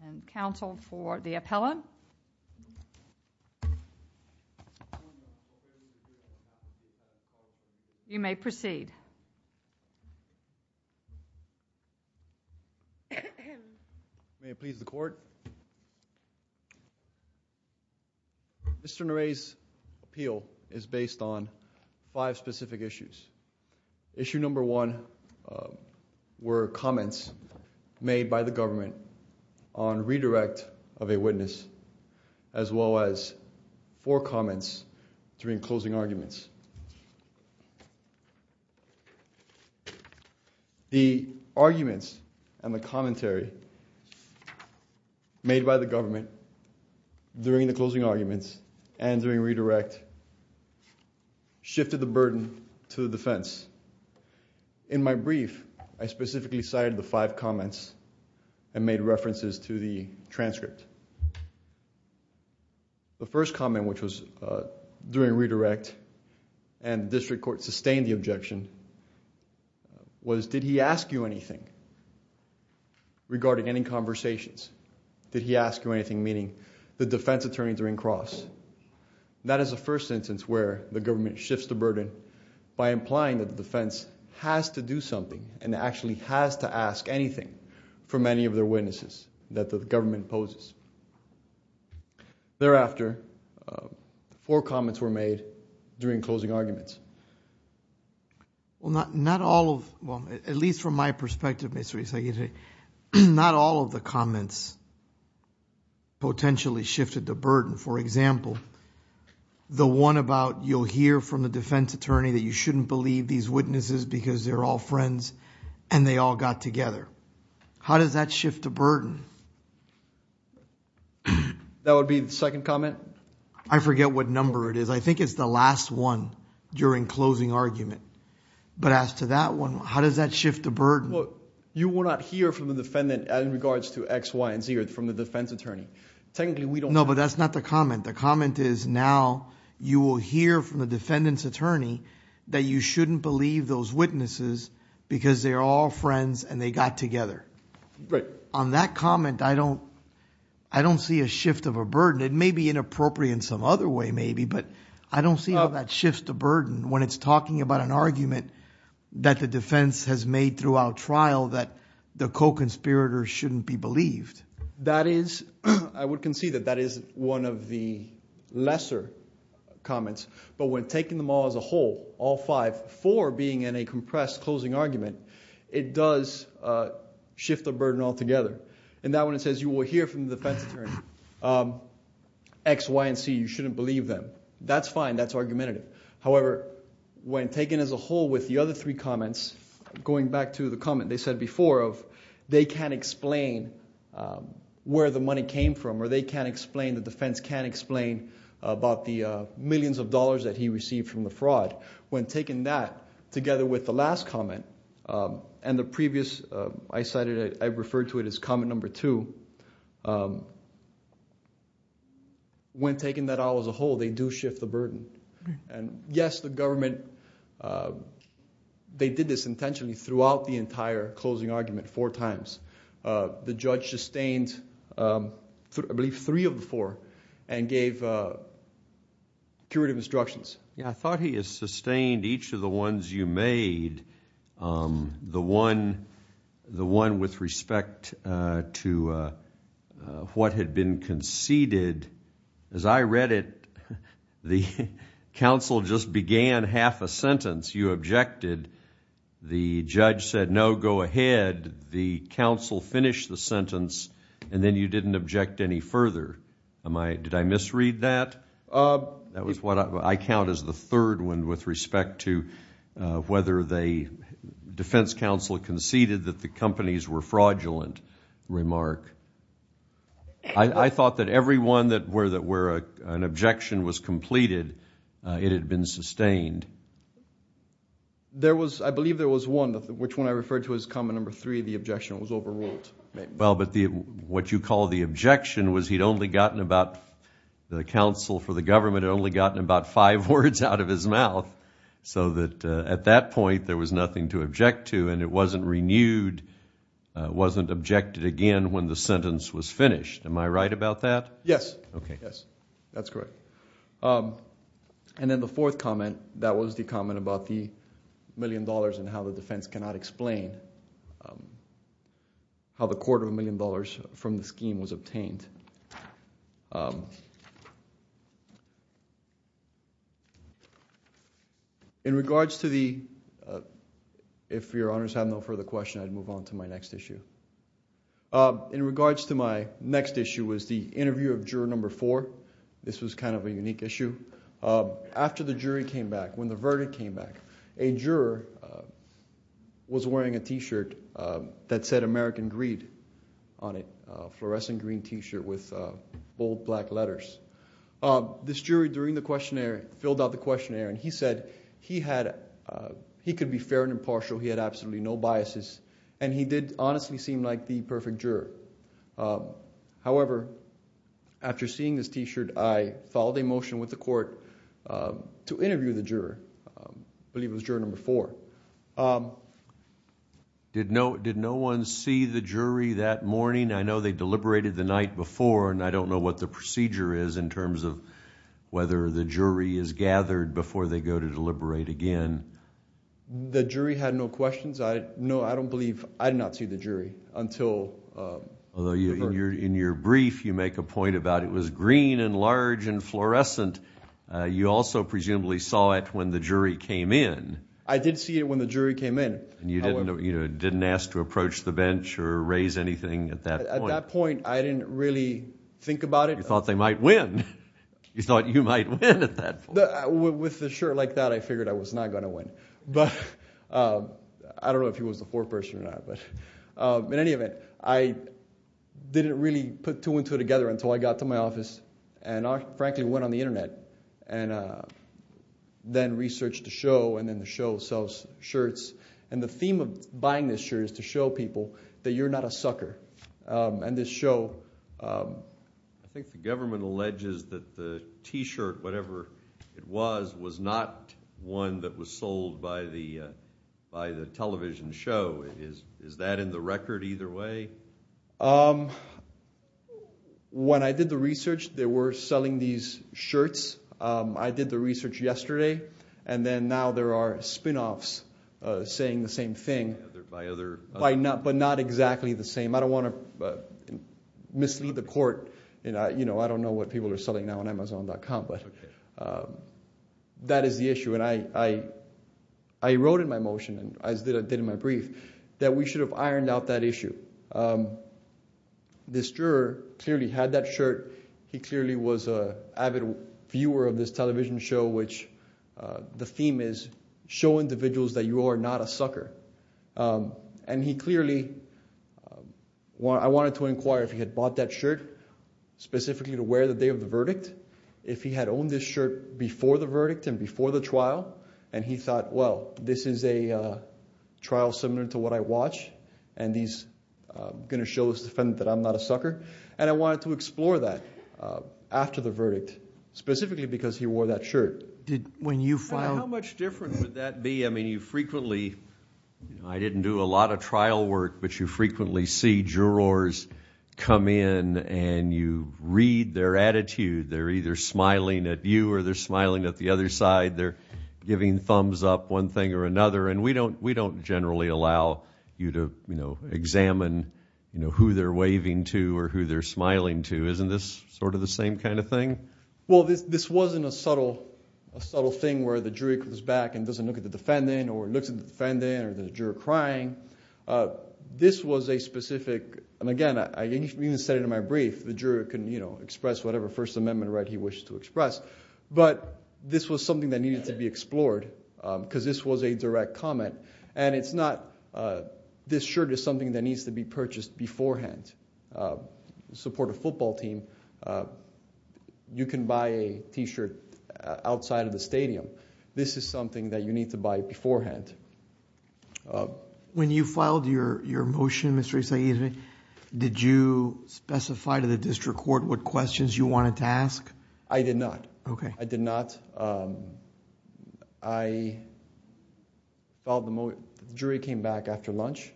and counsel for the appellant. You may proceed. Mr. Nerey's appeal is based on five specific issues. Issue number one were comments made by the government on redirect of a witness as well as four comments during closing arguments. The arguments and the commentary made by the government during the closing arguments and during redirect shifted the burden to the defense. In my brief, I specifically cited the five comments and made references to the transcript. The first comment, which was during redirect, and the district court sustained the objection, was did he ask you anything regarding any conversations? Did he ask you anything? Meaning the defense attorneys are in cross. That is the first instance where the government shifts the burden by implying that the defense has to do something and actually has to ask anything from any of their witnesses that the government poses. Thereafter, four comments were made during closing arguments. Not all of them, at least from my perspective, not all of the comments potentially shifted the burden. For example, the one about you'll hear from the defense attorney that you shouldn't believe these witnesses because they're all friends and they all got together. How does that shift the burden? That would be the second comment? I forget what number it is. I think it's the last one during closing argument. But as to that one, how does that shift the burden? You will not hear from the defendant in regards to X, Y, and Z from the defense attorney. Technically, we don't know. No, but that's not the comment. The comment is now you will hear from the defendant's attorney that you shouldn't believe those witnesses because they're all friends and they got together. On that comment, I don't see a shift of a burden. It may be inappropriate in some other way maybe, but I don't see how that shifts the burden when it's talking about an argument that the defense has made throughout trial that the co-conspirators shouldn't be believed. I would concede that that is one of the lesser comments, but when taking them all as a whole, all five, four being in a compressed closing argument, it does shift the burden altogether. In that one, it says you will hear from the defense attorney, X, Y, and Z, you shouldn't believe them. That's fine. That's argumentative. However, when taken as a whole with the other three comments, going back to the comment they said before of they can't explain where the money came from or they can't explain, the defense can't explain about the millions of dollars that he received from the fraud. When taking that together with the last comment and the previous, I said it, I referred to it as comment number two. When taking that all as a whole, they do shift the burden and yes, the government, they did this intentionally throughout the entire closing argument four times. The judge sustained, I believe, three of the four and gave curative instructions. Yeah. I thought he has sustained each of the ones you made. The one with respect to what had been conceded, as I read it, the counsel just began half a sentence. You objected. The judge said, no, go ahead. The counsel finished the sentence and then you didn't object any further. Did I misread that? That was what I count as the third one with respect to whether the defense counsel conceded that the companies were fraudulent remark. I thought that every one where an objection was completed, it had been sustained. I believe there was one, which one I referred to as comment number three, the objection was overruled. What you call the objection was he'd only gotten about, the counsel for the government had only gotten about five words out of his mouth, so that at that point there was nothing to object to and it wasn't renewed, wasn't objected again when the sentence was finished. Am I right about that? Yes. Yes. That's correct. Then the fourth comment, that was the comment about the million dollars and how the defense cannot explain how the quarter of a million dollars from the scheme was obtained. In regards to the, if your honors have no further question, I'd move on to my next issue. In regards to my next issue was the interview of juror number four. This was kind of a unique issue. After the jury came back, when the verdict came back, a juror was wearing a t-shirt that said American Greed on it, a fluorescent green t-shirt with bold black letters. This jury, during the questionnaire, filled out the questionnaire and he said he had, he could be fair and impartial, he had absolutely no biases, and he did honestly seem like the perfect juror. However, after seeing this t-shirt, I followed a motion with the court to interview the juror, I believe it was juror number four. Did no one see the jury that morning? I know they deliberated the night before and I don't know what the procedure is in terms of whether the jury is gathered before they go to deliberate again. The jury had no questions. No, I don't believe, I did not see the jury until the verdict. In your brief, you make a point about it was green and large and fluorescent. You also presumably saw it when the jury came in. I did see it when the jury came in. You didn't ask to approach the bench or raise anything at that point? At that point, I didn't really think about it. You thought they might win. You thought you might win at that point. With a shirt like that, I figured I was not going to win. But I don't know if he was the fourth person or not, but in any event, I didn't really put two and two together until I got to my office and I frankly went on the internet and then researched the show and then the show sells shirts. And the theme of buying this shirt is to show people that you're not a sucker and this show. I think the government alleges that the T-shirt, whatever it was, was not one that was sold by the television show. Is that in the record either way? When I did the research, they were selling these shirts. I did the research yesterday and then now there are spin-offs saying the same thing. By other... But not exactly the same. I don't want to mislead the court. I don't know what people are selling now on Amazon.com, but that is the issue. And I wrote in my motion, as I did in my brief, that we should have ironed out that issue. This juror clearly had that shirt. He clearly was an avid viewer of this television show, which the theme is show individuals that you are not a sucker. And he clearly... I wanted to inquire if he had bought that shirt specifically to wear the day of the verdict, if he had owned this shirt before the verdict and before the trial. And he thought, well, this is a trial similar to what I watch, and he's going to show his defendant that I'm not a sucker. And I wanted to explore that after the verdict, specifically because he wore that shirt. When you filed... How much different would that be? I mean, you frequently... I didn't do a lot of trial work, but you frequently see jurors come in and you read their attitude. They're either smiling at you or they're smiling at the other side. They're giving thumbs up one thing or another. And we don't generally allow you to examine who they're waving to or who they're smiling to. Isn't this sort of the same kind of thing? Well, this wasn't a subtle thing where the jury comes back and doesn't look at the defendant or looks at the defendant or the juror crying. This was a specific... And again, I even said it in my brief, the juror can express whatever First Amendment right he wishes to express. But this was something that needed to be explored because this was a direct comment. And it's not... This shirt is something that needs to be purchased beforehand to support a football team. You can buy a t-shirt outside of the stadium. This is something that you need to buy beforehand. When you filed your motion, Mr. Issaidi, did you specify to the district court what questions you wanted to ask? I did not. I did not. I filed the motion... The jury came back after lunch.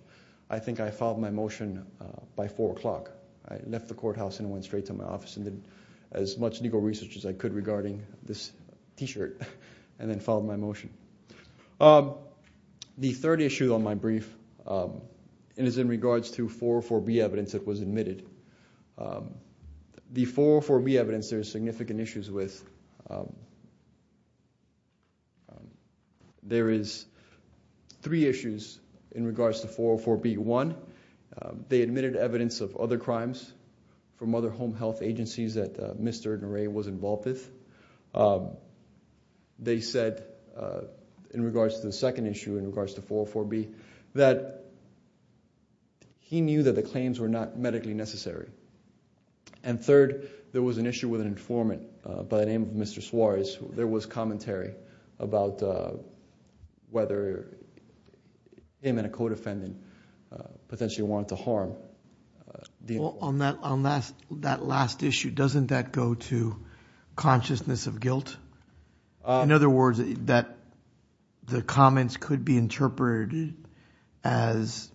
I think I filed my motion by 4 o'clock. I left the courthouse and went straight to my office and did as much legal research as I could regarding this t-shirt and then filed my motion. The third issue on my brief is in regards to 404B evidence that was admitted. The 404B evidence there is significant issues with... There is three issues in regards to 404B. One, they admitted evidence of other crimes from other home health agencies that Mr. Norea was involved with. They said, in regards to the second issue, in regards to 404B, that he knew that the claims were not medically necessary. And third, there was an issue with an informant by the name of Mr. Suarez. There was commentary about whether him and a co-defendant potentially wanted to harm the informant. On that last issue, doesn't that go to consciousness of guilt? In other words, that the comments could be interpreted as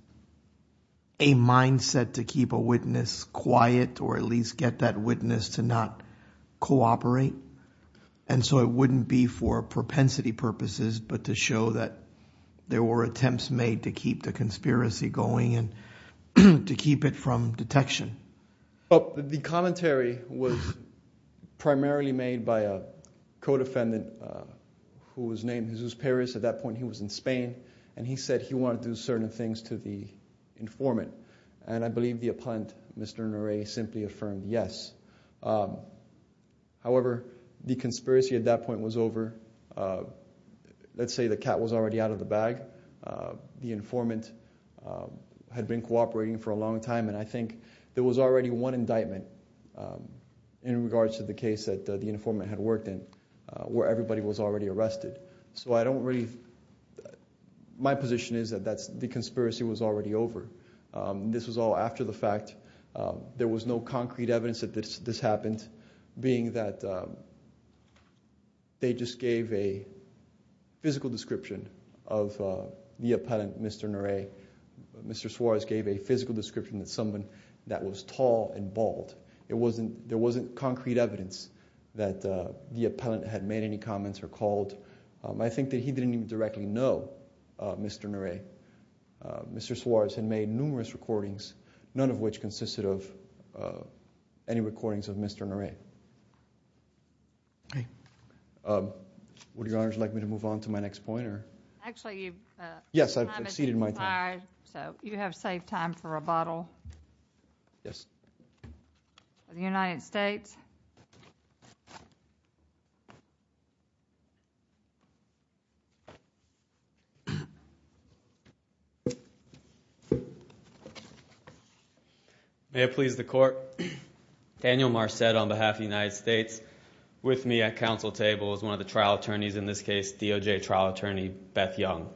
a mindset to keep a witness quiet or at least get that witness to not cooperate. And so it wouldn't be for propensity purposes, but to show that there were attempts made to keep the conspiracy going and to keep it from detection. But the commentary was primarily made by a co-defendant who was named Jesus Perez. At that point, he was in Spain, and he said he wanted to do certain things to the informant. And I believe the appellant, Mr. Norea, simply affirmed yes. However, the conspiracy at that point was over. Let's say the cat was already out of the bag. The informant had been cooperating for a long time, and I think there was already one indictment in regards to the case that the informant had worked in where everybody was already arrested. So I don't really, my position is that the conspiracy was already over. This was all after the fact. There was no concrete evidence that this happened, being that they just gave a physical description of the appellant, Mr. Norea. Mr. Suarez gave a physical description of someone that was tall and bald. There wasn't concrete evidence that the appellant had made any comments or called. I think that he didn't even directly know Mr. Norea. Mr. Suarez had made numerous recordings, none of which consisted of any recordings of Mr. Norea. Would Your Honor like me to move on to my next point, or? Actually, your time has expired. Yes, I've exceeded my time. So you have saved time for rebuttal. Yes. Of the United States. May it please the court. Daniel Marcet on behalf of the United States, with me at council table, is one of the trial attorneys in this case, DOJ trial attorney, Beth Young.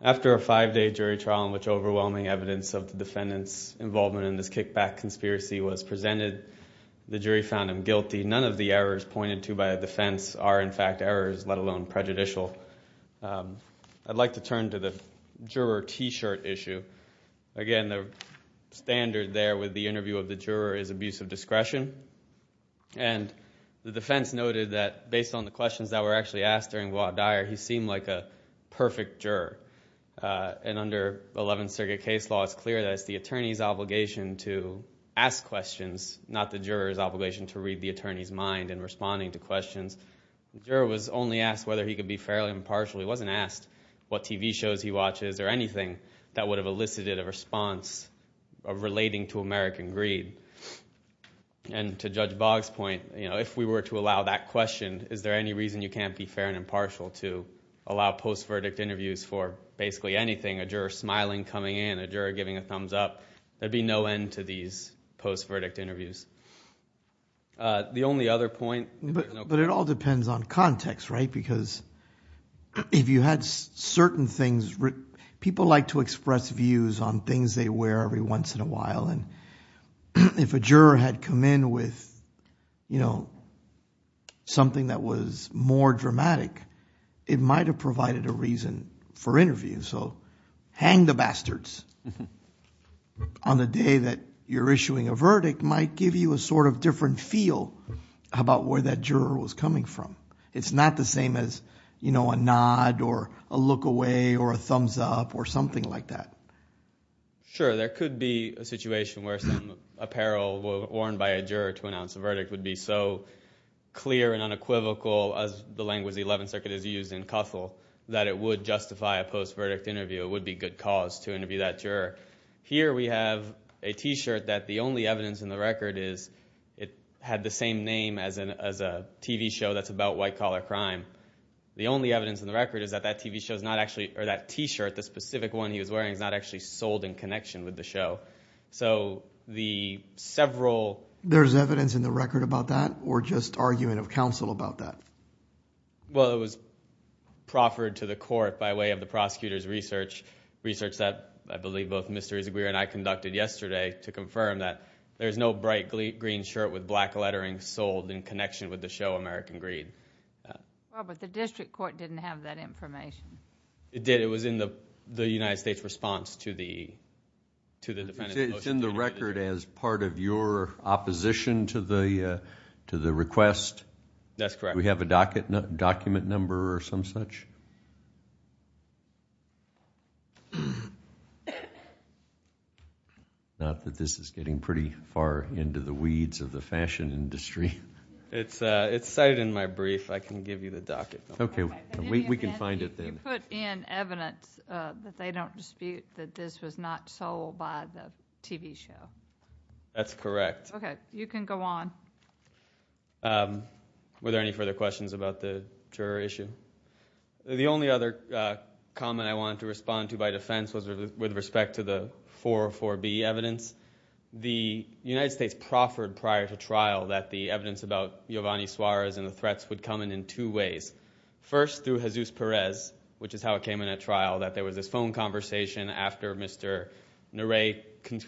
After a five-day jury trial in which overwhelming evidence of the defendant's involvement in this kickback conspiracy was presented, the jury found him guilty. None of the errors pointed to by the defense are in fact errors, let alone prejudicial. So I'd like to turn to the juror t-shirt issue. Again, the standard there with the interview of the juror is abuse of discretion. And the defense noted that based on the questions that were actually asked during Watt-Dyer, he seemed like a perfect juror. And under Eleventh Circuit case law, it's clear that it's the attorney's obligation to ask questions, not the juror's obligation to read the attorney's mind in responding to questions. The juror was only asked whether he could be fairly impartial. He wasn't asked what TV shows he watches or anything that would have elicited a response of relating to American greed. And to Judge Boggs' point, you know, if we were to allow that question, is there any reason you can't be fair and impartial to allow post-verdict interviews for basically anything, a juror smiling, coming in, a juror giving a thumbs up? There'd be no end to these post-verdict interviews. The only other point. But it all depends on context, right? Because if you had certain things, people like to express views on things they wear every once in a while. And if a juror had come in with, you know, something that was more dramatic, it might have provided a reason for interview. So hang the bastards on the day that you're issuing a verdict might give you a sort of different feel about where that juror was coming from. It's not the same as, you know, a nod or a look away or a thumbs up or something like that. Sure. There could be a situation where some apparel worn by a juror to announce a verdict would be so clear and unequivocal as the language the Eleventh Circuit has used in Cuthel that it would justify a post-verdict interview. It would be good cause to interview that juror. Here we have a T-shirt that the only evidence in the record is it had the same name as a TV show that's about white-collar crime. The only evidence in the record is that that TV show is not actually, or that T-shirt, the specific one he was wearing, is not actually sold in connection with the show. So the several... There's evidence in the record about that? Or just argument of counsel about that? Well, it was proffered to the court by way of the prosecutor's research, research that I believe both Mr. Izaguirre and I conducted yesterday to confirm that there's no bright green shirt with black lettering sold in connection with the show American Greed. Well, but the district court didn't have that information. It did. It was in the United States response to the defendant's motion. It's in the record as part of your opposition to the request? That's correct. We have a docket, document number or some such? Not that this is getting pretty far into the weeds of the fashion industry. It's cited in my brief. I can give you the docket. Okay, we can find it then. You put in evidence that they don't dispute that this was not sold by the TV show. That's correct. Okay, you can go on. Were there any further questions about the juror issue? The only other comment I wanted to respond to by defense was with respect to the 404B evidence. The United States proffered prior to trial that the evidence about Giovanni Suarez and the threats would come in in two ways. First, through Jesus Perez, which is how it came in at trial, that there was this phone conversation after Mr. Nurey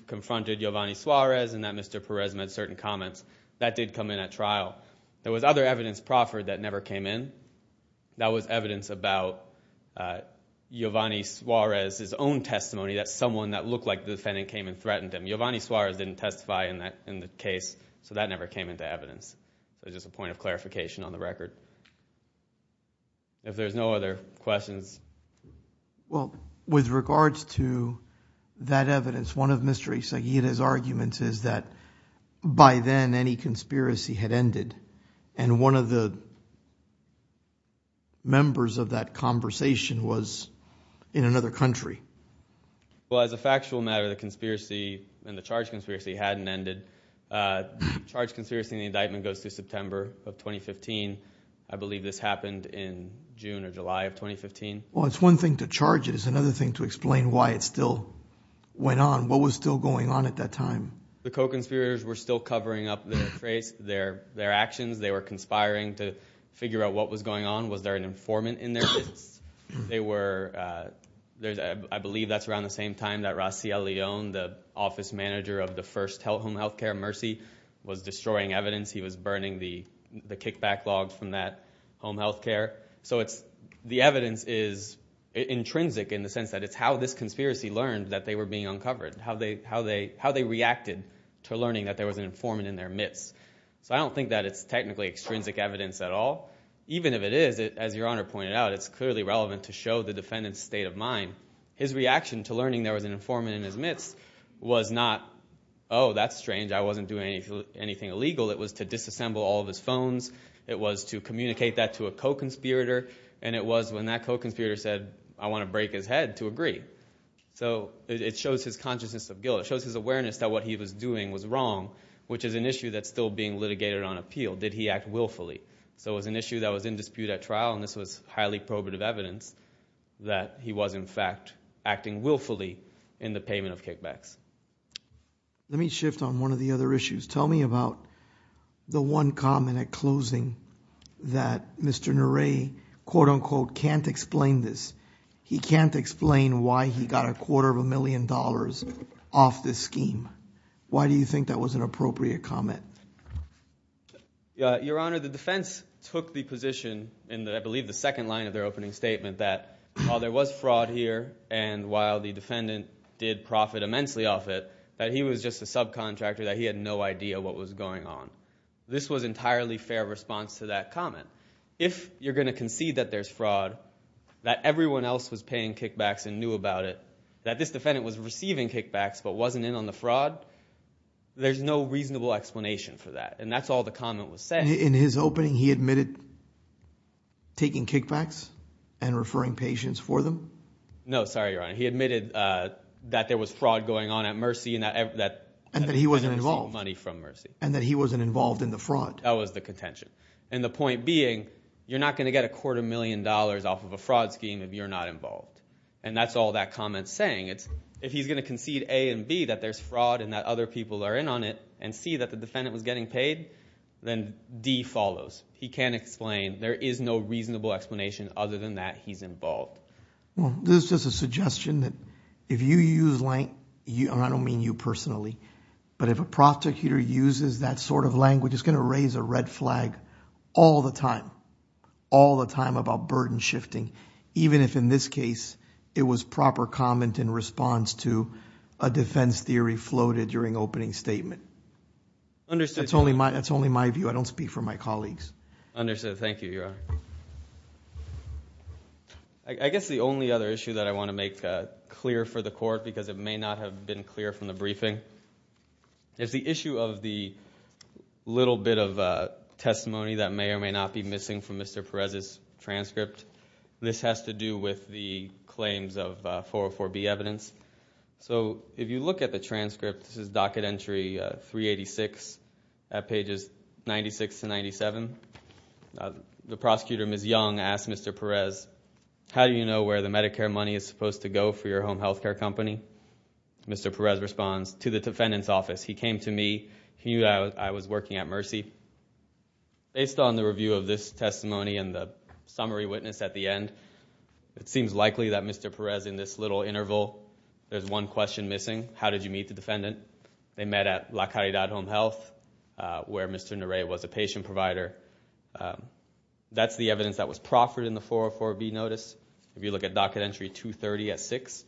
confronted Giovanni Suarez and that Mr. Perez made certain comments. That did come in at trial. There was other evidence proffered that never came in. That was evidence about Giovanni Suarez's own testimony that someone that looked like the defendant came and threatened him. Giovanni Suarez didn't testify in the case, so that never came into evidence. It's just a point of clarification on the record. If there's no other questions. Well, with regards to that evidence, one of Mr. Ysaguirre's arguments is that by then any conspiracy had ended and one of the members of that conversation was in another country. Well, as a factual matter, the conspiracy and the charge conspiracy hadn't ended. The charge conspiracy and the indictment goes through September of 2015. I believe this happened in June or July of 2015. Well, it's one thing to charge it. It's another thing to explain why it still went on. What was still going on at that time? The co-conspirators were still covering up their traits, their actions. They were conspiring to figure out what was going on. Was there an informant in their business? I believe that's around the same time that Raciel Leon, the office manager of the first home health care, Mercy, was destroying evidence. He was burning the kickback log from that home health care. The evidence is intrinsic in the sense that it's how this conspiracy learned that they were being uncovered, how they reacted to learning that there was an informant in their midst. So I don't think that it's technically extrinsic evidence at all. Even if it is, as Your Honor pointed out, it's clearly relevant to show the defendant's state of mind. His reaction to learning there was an informant in his midst was not, oh, that's strange. I wasn't doing anything illegal. It was to disassemble all of his phones. It was to communicate that to a co-conspirator. And it was when that co-conspirator said, I want to break his head to agree. So it shows his consciousness of guilt. It shows his awareness that what he was doing was wrong, which is an issue that's still being litigated on appeal. Did he act willfully? So it was an issue that was in dispute at trial. And this was highly probative evidence that he was, in fact, acting willfully in the payment of kickbacks. Let me shift on one of the other issues. Tell me about the one comment at closing that Mr. Narae, quote unquote, can't explain this. He can't explain why he got a quarter of a million dollars off this scheme. Why do you think that was an appropriate comment? Your Honor, the defense took the position in, I believe, the second line of their opening statement that while there was fraud here and while the defendant did profit immensely off it, that he was just a subcontractor, that he had no idea what was going on. This was entirely fair response to that comment. If you're going to concede that there's fraud, that everyone else was paying kickbacks and knew about it, that this defendant was receiving kickbacks but wasn't in on the fraud, there's no reasonable explanation for that. And that's all the comment was saying. In his opening, he admitted taking kickbacks and referring patients for them? No, sorry, Your Honor. He admitted that there was fraud going on at Mercy and that he wasn't involved in the fraud. That was the contention. And the point being, you're not going to get a quarter million dollars off of a fraud scheme if you're not involved. And that's all that comment's saying. If he's going to concede A and B, that there's fraud and that other people are in on it, and C, that the defendant was getting paid, then D follows. He can't explain. There is no reasonable explanation other than that he's involved. Well, this is just a suggestion that if you use, and I don't mean you personally, but if a prosecutor uses that sort of language, it's going to raise a red flag all the time. All the time about burden shifting. Even if in this case, it was proper comment in response to a defense theory floated during opening statement. That's only my view. I don't speak for my colleagues. Understood. Thank you, Your Honor. I guess the only other issue that I want to make clear for the court, because it may not have been clear from the briefing, is the issue of the little bit of testimony that may or may not be missing from Mr. Perez's transcript. This has to do with the claims of 404B evidence. So if you look at the transcript, this is docket entry 386 at pages 96 to 97. The prosecutor, Ms. Young, asked Mr. Perez, how do you know where the Medicare money is supposed to go for your home health care company? Mr. Perez responds, to the defendant's office. He came to me. He knew I was working at Mercy. Based on the review of this testimony and the summary witness at the end, it seems likely that Mr. Perez, in this little interval, there's one question missing. How did you meet the defendant? They met at La Caridad Home Health, where Mr. Narae was a patient provider. That's the evidence that was proffered in the 404B notice. If you look at docket entry 230 at 6,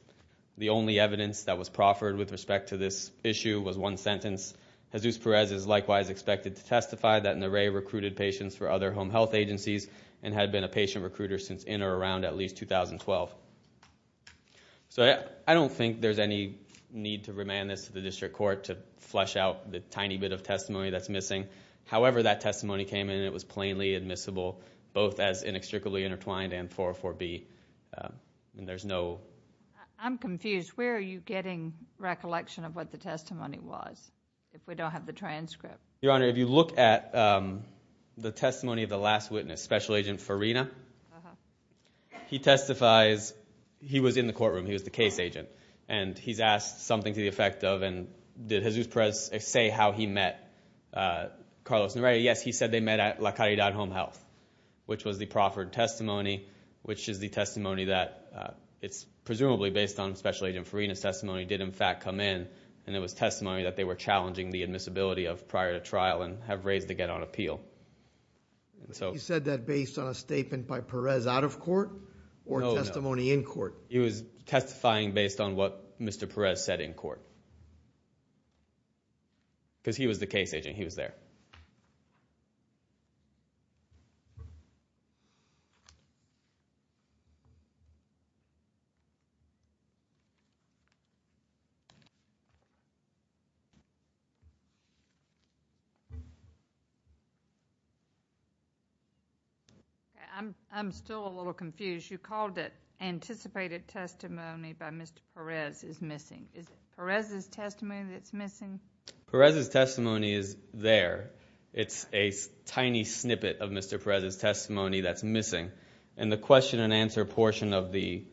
the only evidence that was proffered with respect to this issue was one sentence. Jesus Perez is likewise expected to testify that Narae recruited patients for other home health agencies and had been a patient recruiter since in or around at least 2012. So I don't think there's any need to remand this to the district court to flesh out the tiny bit of testimony that's missing. However, that testimony came in and it was plainly admissible, both as inextricably intertwined and 404B. I'm confused. Where are you getting recollection of what the testimony was if we don't have the transcript? Your Honor, if you look at the testimony of the last witness, Special Agent Farina, he testifies. He was in the courtroom. He was the case agent and he's asked something to the effect of, did Jesus Perez say how he met Carlos Narae? Yes, he said they met at La Caridad Home Health, which was the proffered testimony, which is the testimony that it's presumably based on Special Agent Farina's testimony, did in fact come in and it was testimony that they were challenging the admissibility of prior to trial and have raised to get on appeal. You said that based on a statement by Perez out of court or testimony in court? He was testifying based on what Mr. Perez said in court. Because he was the case agent. He was there. I'm still a little confused. You called it anticipated testimony by Mr. Perez is missing. Is it Perez's testimony that's missing? Perez's testimony is there. It's a tiny snippet of Mr. Perez's testimony that's missing. And the question and answer portion of the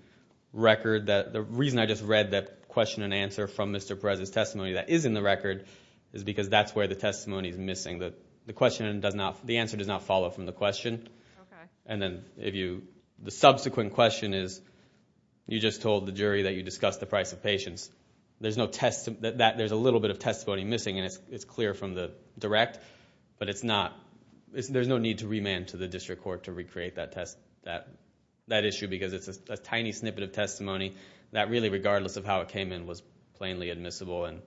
record, the reason I just read that question and answer from Mr. Perez's testimony that is in the record is because that's where the testimony is missing. The answer does not follow from the question. And then the subsequent question is, you just told the jury that you discussed the price of patience. There's a little bit of testimony missing and it's clear from the direct, but there's no need to remand to the district court to recreate that issue because it's a tiny snippet of testimony that really regardless of how it came in was plainly admissible. And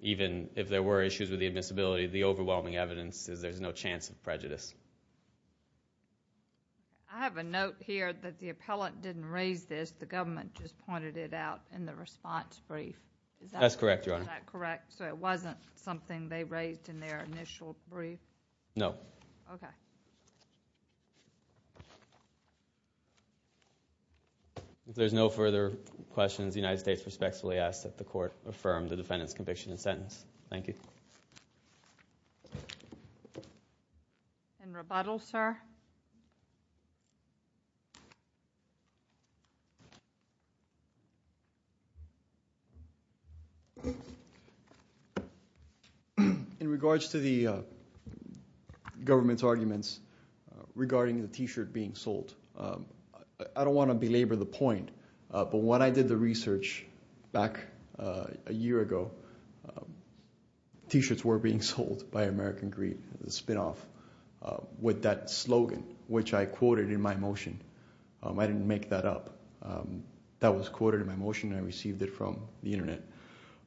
even if there were issues with the admissibility, the overwhelming evidence is there's no chance of prejudice. I have a note here that the appellant didn't raise this. The government just pointed it out in the response brief. That's correct, Your Honor. Is that correct? So it wasn't something they raised in their initial brief? No. Okay. There's no further questions. The United States respectfully asks that the court affirm the defendant's conviction and sentence. Thank you. In rebuttal, sir. In regards to the government's arguments regarding the t-shirt being sold, I don't want to belabor the point, but when I did the research back a year ago, t-shirts were being sold by American Greed, the spinoff, with that slogan, which I quoted in my motion. I didn't make that up. That was quoted in my motion. I received it from the internet.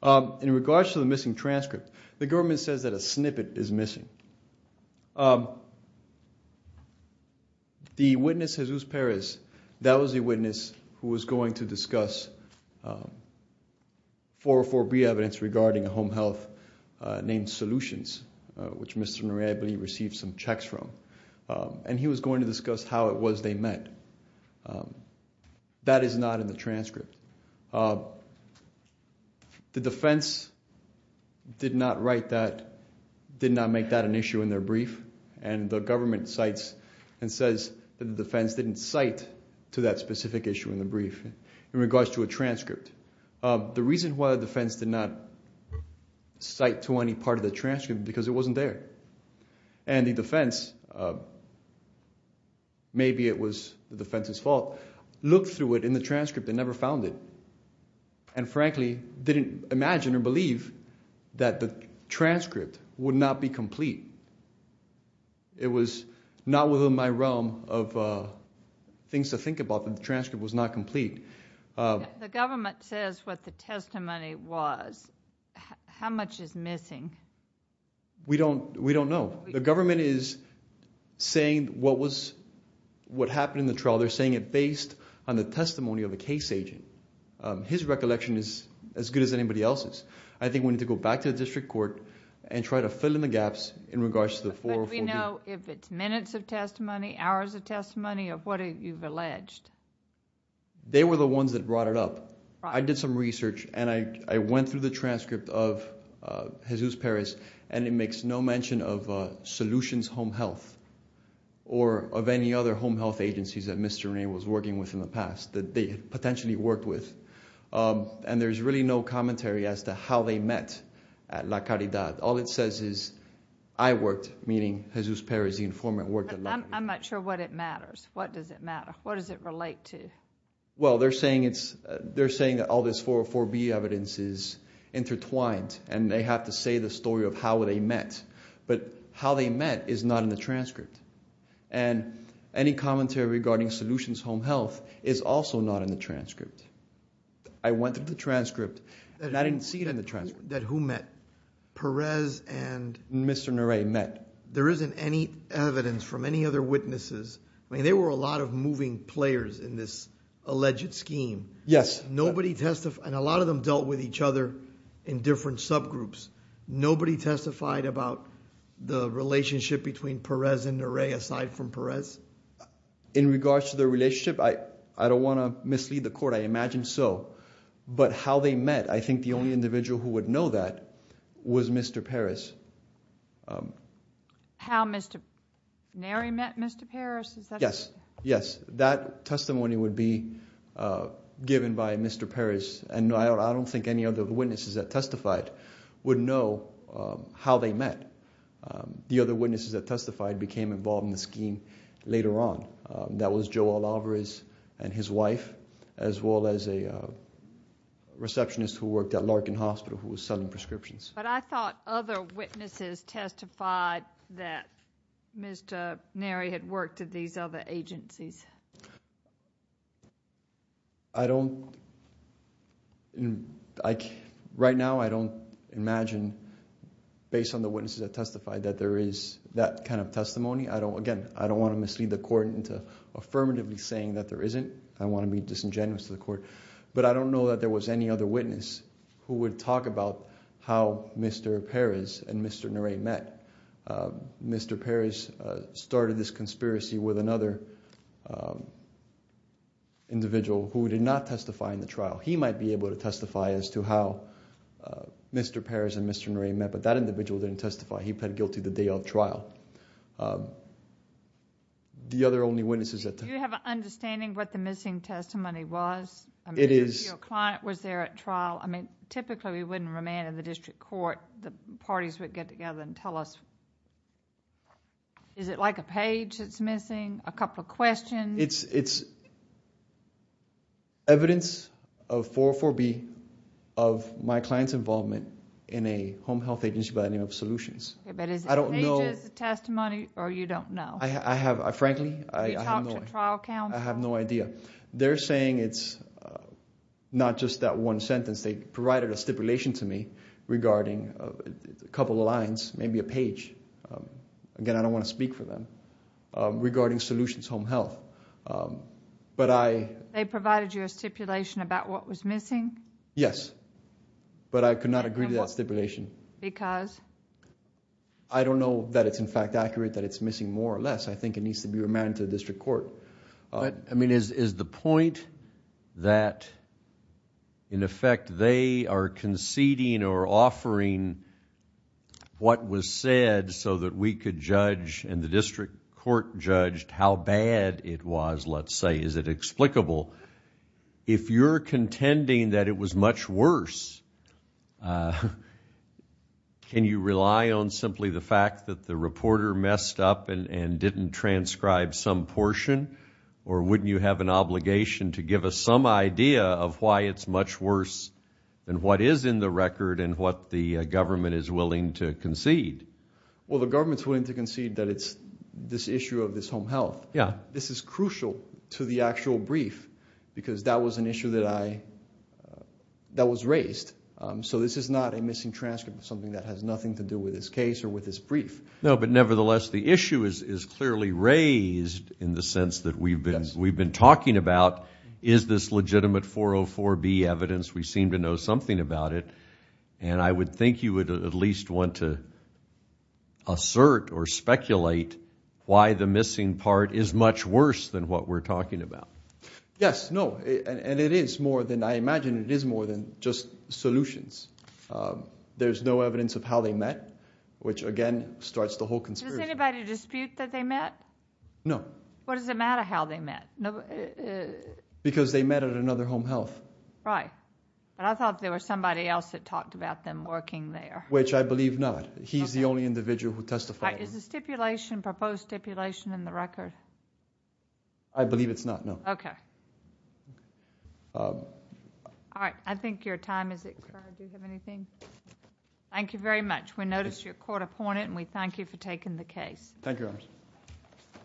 In regards to the missing transcript, the government says that a snippet is missing. The witness, Jesus Perez, that was a witness who was going to discuss 404B evidence regarding home health named Solutions, which Mr. Norea, I believe, received some checks from. And he was going to discuss how it was they met. That is not in the transcript. The defense did not write that, did not make that an issue in their brief. And the government cites and says that the defense didn't cite to that specific issue in the brief in regards to a transcript. The reason why the defense did not cite to any part of the transcript, because it wasn't there. And the defense, maybe it was the defense's fault, looked through it in the transcript and never found it. And frankly, didn't imagine or believe that the transcript would not be complete. It was not within my realm of things to think about that the transcript was not complete. The government says what the testimony was. How much is missing? We don't, we don't know. The government is saying what was, what happened in the trial. They're saying it based on the testimony of a case agent. His recollection is as good as anybody else's. I think we need to go back to the district court and try to fill in the gaps in regards to the 404B. But we know if it's minutes of testimony, hours of testimony of what you've alleged. They were the ones that brought it up. I did some research and I went through the transcript of Jesus Perez and it makes no mention of Solutions Home Health or of any other home health agencies that Mr. Rene was working with in the past that they potentially worked with. And there's really no commentary as to how they met at La Caridad. All it says is I worked, meaning Jesus Perez, the informant worked at La Caridad. I'm not sure what it matters. What does it matter? What does it relate to? Well, they're saying it's, they're saying that all this 404B evidence is intertwined and they have to say the story of how they met. But how they met is not in the transcript. And any commentary regarding Solutions Home Health is also not in the transcript. I went through the transcript and I didn't see it in the transcript. That who met? Perez and? Mr. Narae met. There isn't any evidence from any other witnesses. I mean, there were a lot of moving players in this alleged scheme. Yes. Nobody testified. And a lot of them dealt with each other in different subgroups. Nobody testified about the relationship between Perez and Narae aside from Perez. In regards to their relationship, I don't want to mislead the court. I imagine so. But how they met, I think the only individual who would know that was Mr. Perez. How Mr. Narae met Mr. Perez? Is that? Yes. Yes. That testimony would be given by Mr. Perez. And I don't think any other witnesses that testified would know how they met. The other witnesses that testified became involved in the scheme later on. That was Joel Alvarez and his wife, as well as a receptionist who worked at Larkin Hospital who was selling prescriptions. But I thought other witnesses testified that Mr. Narae had worked at these other agencies. I don't. Right now, I don't imagine, based on the witnesses that testified, that there is that kind of testimony. I don't, again, I don't want to mislead the court into affirmatively saying that there isn't. I want to be disingenuous to the court. But I don't know that there was any other witness who would talk about how Mr. Perez and Mr. Narae met. Mr. Perez started this conspiracy with another individual who did not testify in the trial. He might be able to testify as to how Mr. Perez and Mr. Narae met. But that individual didn't testify. He pled guilty the day of trial. The other only witnesses that testified. Do you have an understanding what the missing testimony was? It is. Your client was there at trial. I mean, typically, we wouldn't remand in the district court. The parties would get together and tell us. Is it like a page that's missing? A couple of questions? It's evidence of 404B of my client's involvement in a home health agency by the name of Solutions. But is it pages, testimony, or you don't know? I have, frankly, I have no idea. They're saying it's not just that one sentence. They provided a stipulation to me regarding a couple of lines, maybe a page. Again, I don't want to speak for them. Regarding Solutions Home Health. But I... They provided you a stipulation about what was missing? Yes. But I could not agree to that stipulation. Because? I don't know that it's, in fact, accurate that it's missing more or less. I think it needs to be remanded to the district court. I mean, is the point that, in effect, they are conceding or offering what was said so that we could judge and the district court judged how bad it was, let's say, is it explicable? If you're contending that it was much worse, can you rely on simply the fact that the reporter messed up and didn't transcribe some portion? Or wouldn't you have an obligation to give us some idea of why it's much worse than what is in the record and what the government is willing to concede? Well, the government's willing to concede that it's this issue of this Home Health. Yeah. This is crucial to the actual brief because that was an issue that I... that was raised. So this is not a missing transcript of something that has nothing to do with this case or with this brief. No, but nevertheless, the issue is clearly raised in the sense that we've been talking about, is this legitimate 404B evidence? We seem to know something about it. And I would think you would at least want to assert or speculate why the missing part is much worse than what we're talking about. Yes, no, and it is more than... I imagine it is more than just solutions. There's no evidence of how they met, which again starts the whole conspiracy. Does anybody dispute that they met? No. What does it matter how they met? Because they met at another Home Health. Right. But I thought there was somebody else that talked about them working there. Which I believe not. He's the only individual who testified. Is the stipulation, proposed stipulation, in the record? I believe it's not, no. Okay. All right. I think your time is... Do you have anything? Thank you very much. We noticed you're court-appointed and we thank you for taking the case. Thank you, Your Honor.